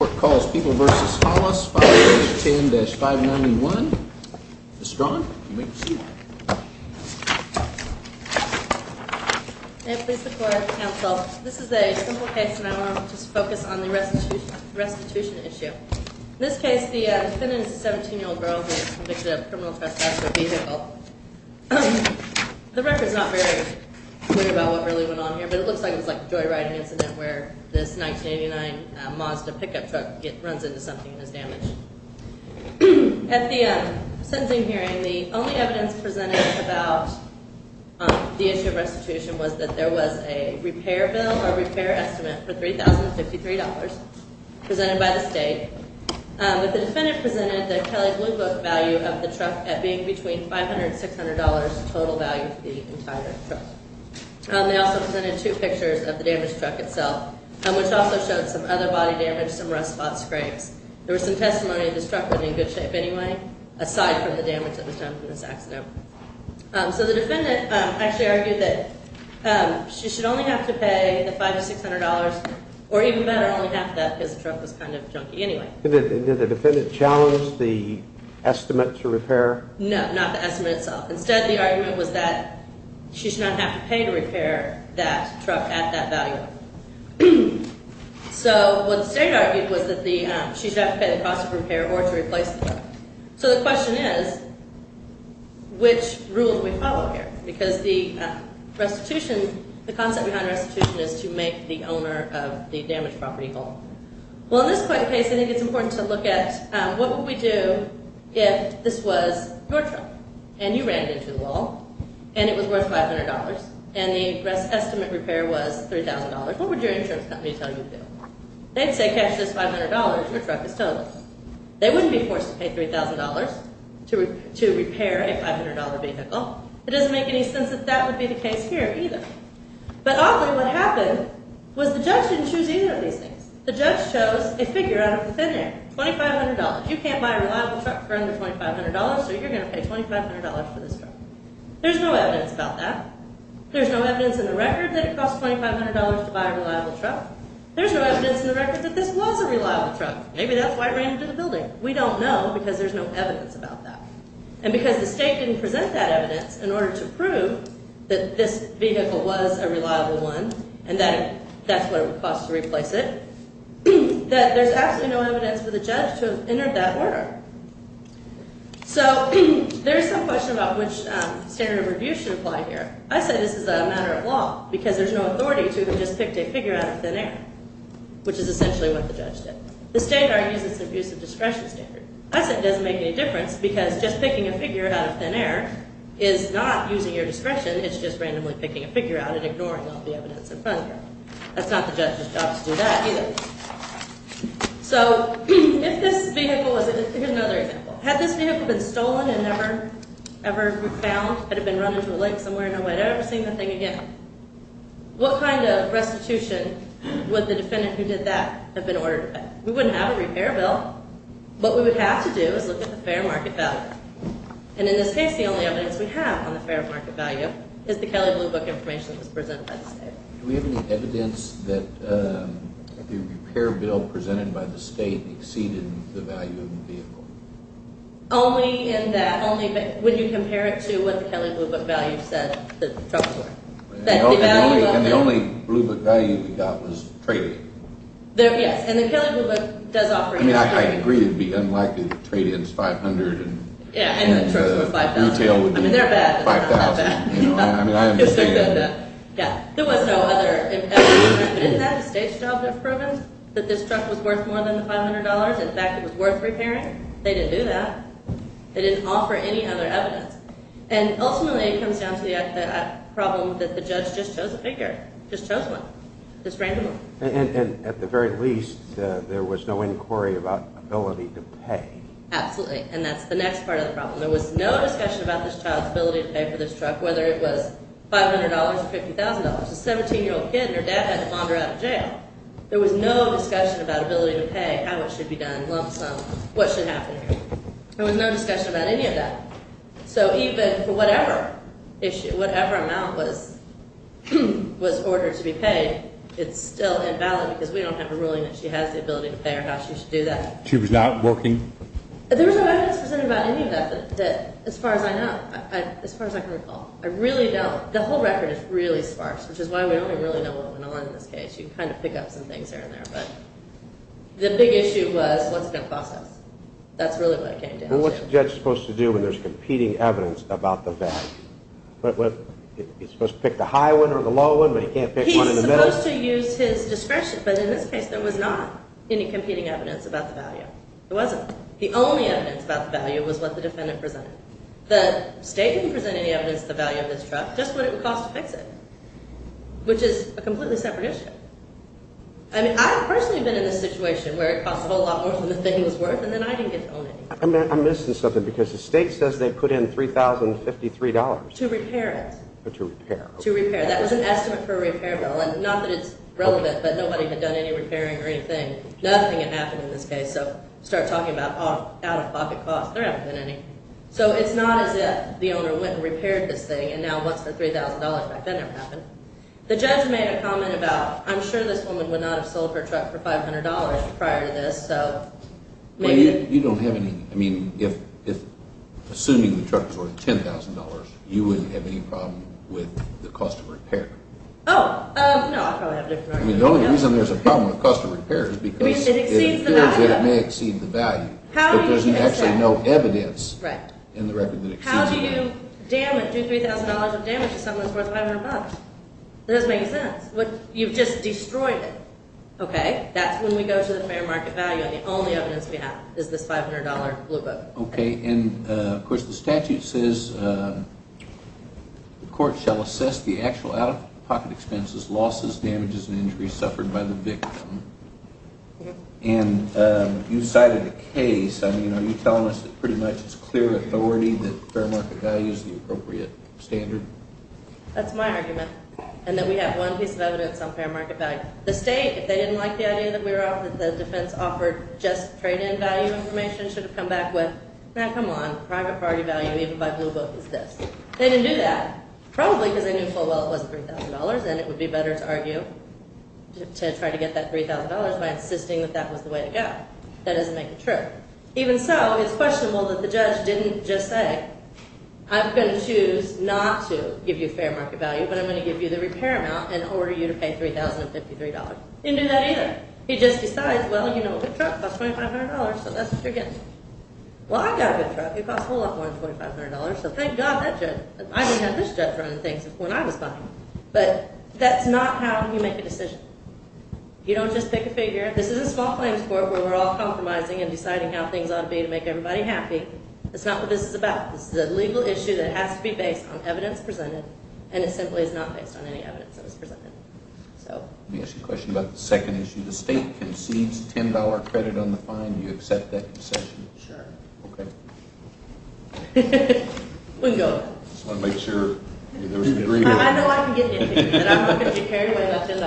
The court calls People v. Hollis 510-591. Ms. Strachan, you may proceed. May it please the court, counsel, this is a simple case and I want to just focus on the restitution issue. In this case, the defendant is a 17-year-old girl who was convicted of criminal trespass with a vehicle. The record's not very clear about what really went on here, but it looks like it was like a joyriding incident where this 1989 Mazda pickup truck runs into something and is damaged. At the sentencing hearing, the only evidence presented about the issue of restitution was that there was a repair bill or repair estimate for $3,053 presented by the state. But the defendant presented the Kelley Blue Book value of the truck at being between $500 and $600 total value for the entire truck. They also presented two pictures of the damaged truck itself, which also showed some other body damage, some rust spots, scrapes. There was some testimony that this truck was in good shape anyway, aside from the damage that was done from this accident. So the defendant actually argued that she should only have to pay the $500 to $600, or even better, only half that because the truck was kind of junky anyway. Did the defendant challenge the estimate to repair? No, not the estimate itself. Instead, the argument was that she should not have to pay to repair that truck at that value. So what the state argued was that she should have to pay the cost of repair or to replace the truck. So the question is, which rule do we follow here? Because the restitution, the concept behind restitution is to make the owner of the damaged property whole. Well, in this quick case, I think it's important to look at what would we do if this was your truck, and you ran it into the wall, and it was worth $500, and the estimate repair was $3,000. What would your insurance company tell you to do? They'd say, cash this $500, your truck is total. They wouldn't be forced to pay $3,000 to repair a $500 vehicle. It doesn't make any sense that that would be the case here either. But oddly, what happened was the judge didn't choose either of these things. The judge chose a figure out of the thin air, $2,500. You can't buy a reliable truck for under $2,500, so you're going to pay $2,500 for this truck. There's no evidence about that. There's no evidence in the record that it cost $2,500 to buy a reliable truck. There's no evidence in the record that this was a reliable truck. Maybe that's why it ran into the building. We don't know because there's no evidence about that. And because the state didn't present that evidence in order to prove that this vehicle was a reliable one and that that's what it would cost to replace it, that there's absolutely no evidence for the judge to have entered that order. So there is some question about which standard of review should apply here. I say this is a matter of law because there's no authority to have just picked a figure out of thin air, which is essentially what the judge did. The state argues it's an abuse of discretion standard. I say it doesn't make any difference because just picking a figure out of thin air is not using your discretion. It's just randomly picking a figure out and ignoring all the evidence in front of you. That's not the judge's job to do that either. So if this vehicle was a—here's another example. Had this vehicle been stolen and never found, had it been run into a lake somewhere, and nobody had ever seen the thing again, what kind of restitution would the defendant who did that have been ordered to pay? We wouldn't have a repair bill. What we would have to do is look at the fair market value. And in this case, the only evidence we have on the fair market value is the Kelley Blue Book information that was presented by the state. Do we have any evidence that the repair bill presented by the state exceeded the value of the vehicle? Only in that—only when you compare it to what the Kelley Blue Book value said that the truck was worth. And the only Blue Book value we got was trade. Yes, and the Kelley Blue Book does offer trade. I mean, I agree it would be unlikely that trade ends $500 and retail would be $5,000. I mean, they're bad, but they're not that bad. I mean, I understand that. There was no other impact. Isn't that the state's job to have proven that this truck was worth more than the $500? In fact, it was worth repairing? They didn't do that. They didn't offer any other evidence. And ultimately, it comes down to the problem that the judge just chose a figure, just chose one, just randomly. And at the very least, there was no inquiry about ability to pay. Absolutely, and that's the next part of the problem. There was no discussion about this child's ability to pay for this truck, whether it was $500 or $50,000. It was a 17-year-old kid, and her dad had to launder her out of jail. There was no discussion about ability to pay, how it should be done, lump sum, what should happen here. There was no discussion about any of that. So even for whatever issue, whatever amount was ordered to be paid, it's still invalid because we don't have a ruling that she has the ability to pay or how she should do that. She was not working? There was no evidence presented about any of that, as far as I know, as far as I can recall. I really don't. The whole record is really sparse, which is why we don't even really know what went on in this case. You can kind of pick up some things here and there, but the big issue was what's it going to cost us. That's really what it came down to. Well, what's a judge supposed to do when there's competing evidence about the value? He's supposed to pick the high one or the low one, but he can't pick one in the middle? He's supposed to use his discretion, but in this case there was not any competing evidence about the value. There wasn't. The only evidence about the value was what the defendant presented. The state didn't present any evidence of the value of this truck, just what it would cost to fix it, which is a completely separate issue. I personally have been in this situation where it costs a whole lot more than the thing was worth, and then I didn't get to own it. I'm missing something because the state says they put in $3,053. To repair it. To repair. To repair. That was an estimate for a repair bill. Not that it's relevant, but nobody had done any repairing or anything. Nothing had happened in this case, so start talking about out-of-pocket costs. There haven't been any. So it's not as if the owner went and repaired this thing, and now wants the $3,000 back. That never happened. The judge made a comment about, I'm sure this woman would not have sold her truck for $500 prior to this. You don't have any. I mean, assuming the truck was worth $10,000, you wouldn't have any problem with the cost of repair. Oh, no. The only reason there's a problem with cost of repair is because it appears that it may exceed the value, but there's actually no evidence in the record that it exceeds the value. How do you do $3,000 of damage to something that's worth $500? It doesn't make sense. You've just destroyed it. Okay. That's when we go to the fair market value, and the only evidence we have is this $500 blue book. Okay. And, of course, the statute says the court shall assess the actual out-of-pocket expenses, losses, damages, and injuries suffered by the victim. And you cited a case. I mean, are you telling us that pretty much it's clear authority that fair market value is the appropriate standard? That's my argument, and that we have one piece of evidence on fair market value. The state, if they didn't like the idea that the defense offered just trade-in value information, should have come back with, now, come on, private party value even by blue book is this. They didn't do that, probably because they knew full well it wasn't $3,000, and it would be better to argue to try to get that $3,000 by insisting that that was the way to go. That doesn't make it true. Even so, it's questionable that the judge didn't just say, I'm going to choose not to give you fair market value, but I'm going to give you the repair amount and order you to pay $3,053. He didn't do that either. He just decides, well, you know, a good truck costs $2,500, so that's what you're getting. Well, I got a good truck. It cost a whole lot more than $2,500, so thank God that judge, I didn't have this judge running things when I was buying it. But that's not how you make a decision. You don't just pick a figure. This is a small claims court where we're all compromising and deciding how things ought to be to make everybody happy. That's not what this is about. This is a legal issue that has to be based on evidence presented, and it simply is not based on any evidence that was presented. Let me ask you a question about the second issue. The state concedes $10 credit on the fine. Do you accept that concession? Sure. Okay. We can go. I just want to make sure there was an agreement. I know I can get into it, but I'm not going to be carried away with $10.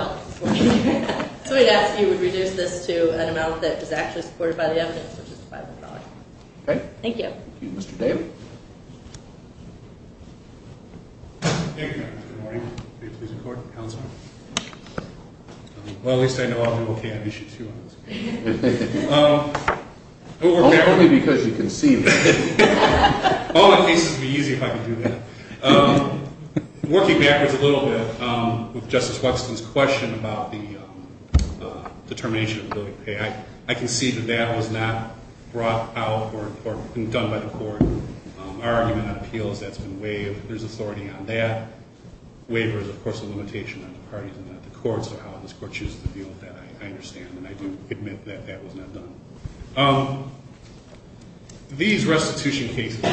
So we'd ask you would reduce this to an amount that is actually supported by the evidence, which is $5,000. Okay. Thank you. Thank you. Mr. Dave? Thank you, Madam Judge. Good morning. May it please the Court, Counselor. Well, at least I know I'll do okay on Issue 2. Only because you conceded. All my cases would be easy if I could do that. Working backwards a little bit with Justice Waxman's question about the determination of the building pay, I can see that that was not brought out or done by the Court. Our argument on appeals, that's been waived. There's authority on that. Waiver is, of course, a limitation on the parties and not the Court, so how this Court chooses to deal with that, I understand, and I do admit that that was not done. These restitution cases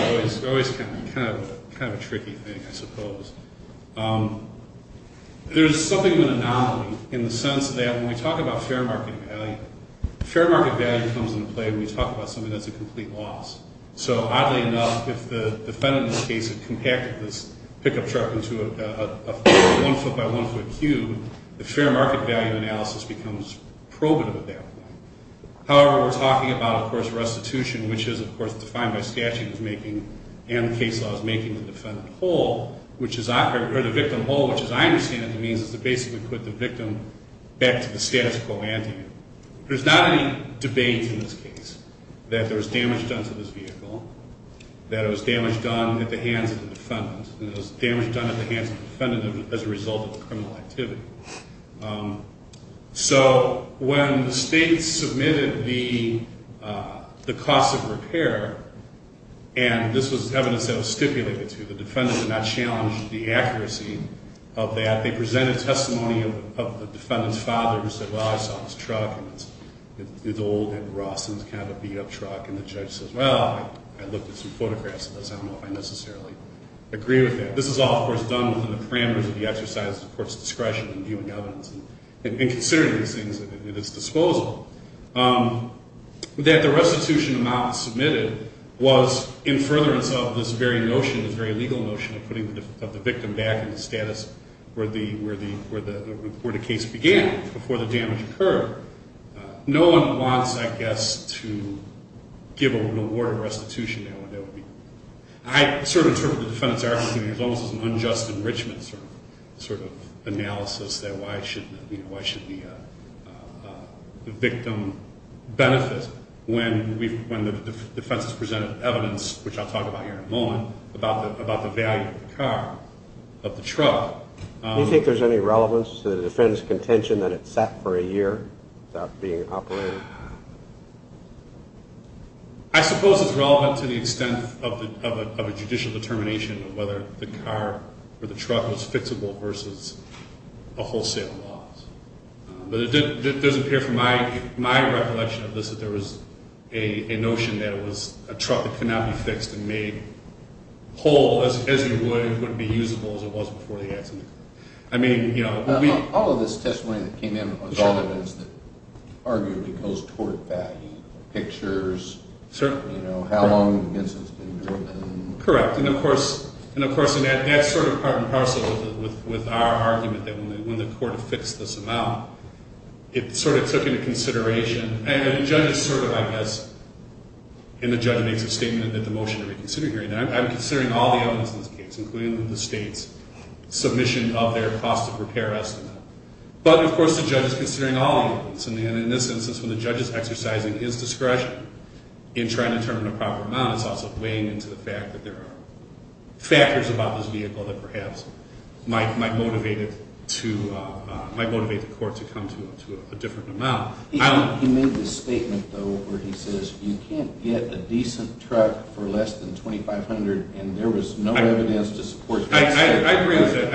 are always kind of a tricky thing, I suppose. There's something of an anomaly in the sense that when we talk about fair market value, fair market value comes into play when we talk about something that's a complete loss. So oddly enough, if the defendant in this case had compacted this pickup truck into a one-foot-by-one-foot cube, the fair market value analysis becomes probative at that point. However, we're talking about, of course, restitution, which is, of course, defined by statutes making and case laws making the defendant whole, or the victim whole, which as I understand it means is to basically put the victim back to the status quo ante. There's not any debate in this case that there was damage done to this vehicle, that it was damage done at the hands of the defendant, and it was damage done at the hands of the defendant as a result of the criminal activity. So when the state submitted the cost of repair, and this was evidence that was stipulated to, the defendant did not challenge the accuracy of that. They presented testimony of the defendant's father who said, well, I saw this truck, and it's old and raw, so it's kind of a beat-up truck. And the judge says, well, I looked at some photographs of this. I don't know if I necessarily agree with that. This is all, of course, done within the parameters of the exercise of the court's discretion in viewing evidence and considering these things at its disposal. That the restitution amount submitted was in furtherance of this very notion, this very legal notion of putting the victim back in the status where the case began before the damage occurred. No one wants, I guess, to give an award of restitution. I sort of interpret the defendant's argument as an unjust enrichment sort of analysis. Why should the victim benefit when the defense has presented evidence, which I'll talk about here in a moment, about the value of the car, of the truck. Do you think there's any relevance to the defendant's contention that it sat for a year without being operated? I suppose it's relevant to the extent of a judicial determination of whether the car or the truck was fixable versus a wholesale loss. But it doesn't appear from my recollection of this that there was a notion that it was a truck that could not be fixed and made whole as it would be usable as it was before the accident. All of this testimony that came in was all evidence that arguably goes toward value. Pictures, how long the incident's been going on. Correct, and of course that's sort of part and parcel with our argument that when the court affixed this amount, it sort of took into consideration, and the judge sort of, I guess, and the judge makes a statement that the motion to reconsider hearing, and I'm considering all the evidence in this case, including the state's submission of their cost of repair estimate. But of course the judge is considering all the evidence, and in this instance, when the judge is exercising his discretion in trying to determine the proper amount, it's also weighing into the fact that there are factors about this vehicle that perhaps might motivate it to, might motivate the court to come to a different amount. He made this statement, though, where he says you can't get a decent truck for less than $2,500, and there was no evidence to support that statement. I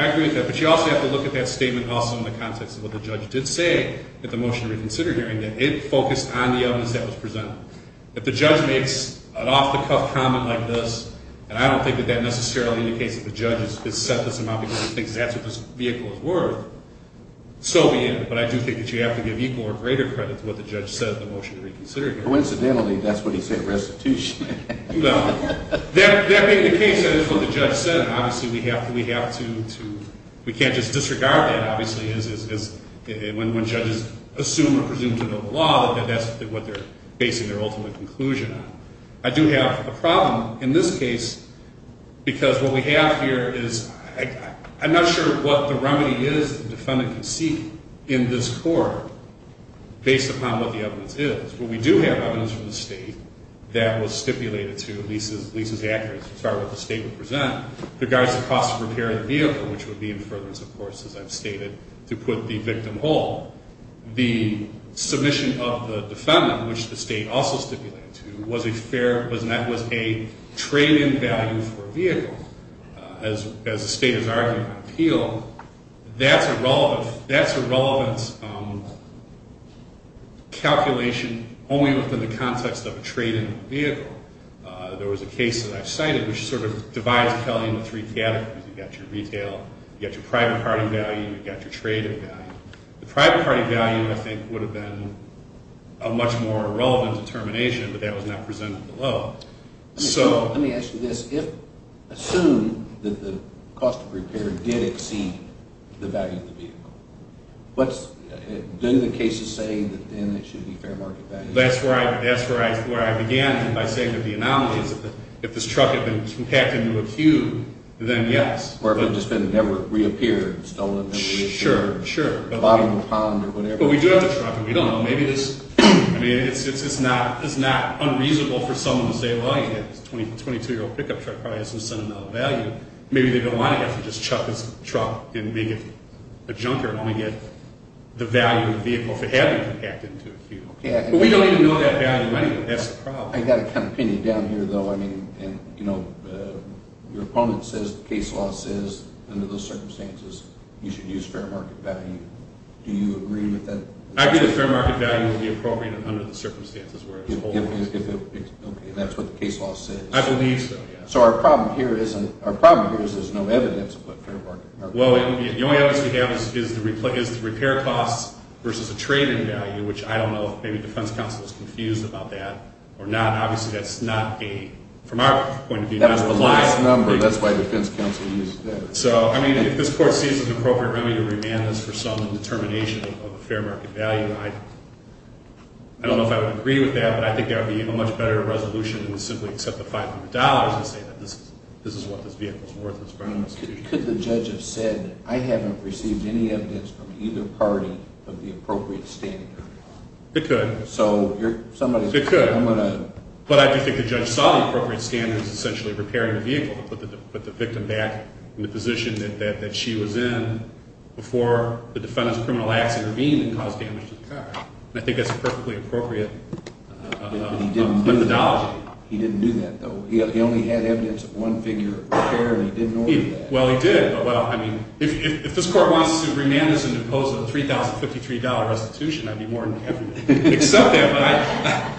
agree with that, but you also have to look at that statement also in the context of what the judge did say at the motion to reconsider hearing, that it focused on the evidence that was presented. If the judge makes an off-the-cuff comment like this, and I don't think that that necessarily indicates that the judge has set this amount because he thinks that's what this vehicle is worth, so be it. But I do think that you have to give equal or greater credit to what the judge said at the motion to reconsider hearing. Coincidentally, that's what he said at restitution. No. That being the case, that is what the judge said. Obviously, we have to, we have to, we can't just disregard that, obviously, when judges assume or presume to know the law that that's what they're basing their ultimate conclusion on. I do have a problem in this case because what we have here is, I'm not sure what the remedy is the defendant can seek in this court based upon what the evidence is. But we do have evidence from the state that was stipulated to, at least as accurate as what the state would present, regards the cost of repair of the vehicle, which would be in furtherance, of course, as I've stated, to put the victim whole. The submission of the defendant, which the state also stipulated to, was a fair, trade-in value for a vehicle. As the state is arguing on appeal, that's a relevance calculation only within the context of a trade-in vehicle. There was a case that I've cited which sort of divides Kelly into three categories. You've got your retail, you've got your private party value, you've got your trade-in value. The private party value, I think, would have been a much more relevant determination, but that was not presented below. Let me ask you this. Assume that the cost of repair did exceed the value of the vehicle. Don't the cases say that then it should be fair market value? That's where I began by saying that the anomaly is if this truck had been compacted into a cube, then yes. Or if it had just been never reappeared, stolen, and reappeared. Sure, sure. Bottom of the pond or whatever. Well, we do have the truck, and we don't know. Maybe it's not unreasonable for someone to say, well, you've got this 22-year-old pickup truck, probably has some sentimental value. Maybe they don't want to have to just chuck this truck and make it a junker and only get the value of the vehicle if it had been compacted into a cube. But we don't even know that value anyway. That's the problem. I've got a kind of opinion down here, though. I mean, your opponent says, the case law says, under those circumstances, you should use fair market value. Do you agree with that? I agree that fair market value would be appropriate under the circumstances where it's holding. Okay, and that's what the case law says. I believe so, yes. So our problem here is there's no evidence of what fair market value is. Well, the only evidence we have is the repair costs versus the trading value, which I don't know if maybe defense counsel is confused about that or not. Obviously, that's not a, from our point of view, not a reliable thing. That's the lowest number. That's why defense counsel used that. So, I mean, if this court sees it appropriate, really, to remand this for some determination of a fair market value, I don't know if I would agree with that, but I think there would be a much better resolution than to simply accept the $500 and say that this is what this vehicle is worth. Could the judge have said, I haven't received any evidence from either party of the appropriate standard? So somebody could. It could. But I do think the judge saw the appropriate standard as essentially repairing the vehicle, to put the victim back in the position that she was in before the defendant's criminal acts intervened and caused damage to the car. And I think that's a perfectly appropriate methodology. He didn't do that, though. He only had evidence of one figure of repair, and he didn't order that. Well, he did. But, well, I mean, if this court wants to remand this and impose a $3,053 restitution, I'd be more than happy to accept that.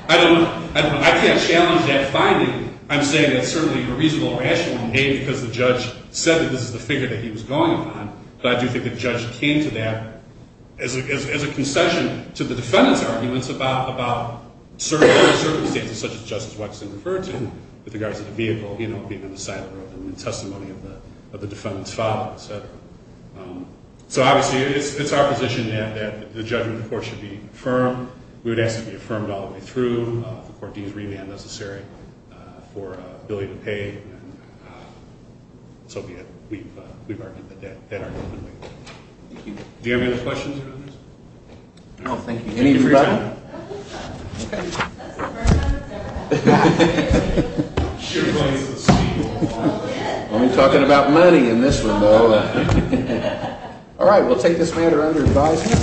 But I can't challenge that finding. I'm saying it's certainly a reasonable, rational move, because the judge said that this is the figure that he was going upon. But I do think the judge came to that as a concession to the defendant's arguments about certain circumstances, such as Justice Watson referred to with regards to the vehicle being on the side of the road and the testimony of the defendant's father, et cetera. So obviously it's our position that the judgment of the court should be firm. We would ask that it be affirmed all the way through. If the court deems remand necessary for a billion to pay, so be it. We've argued that that argument. Thank you. Do you have any other questions or comments? No, thank you. Any for your time? Okay. That's a fair amount of time. I'm sure he's going to get some sleep. I'm talking about money in this one, though. All right. We'll take this matter under advisement.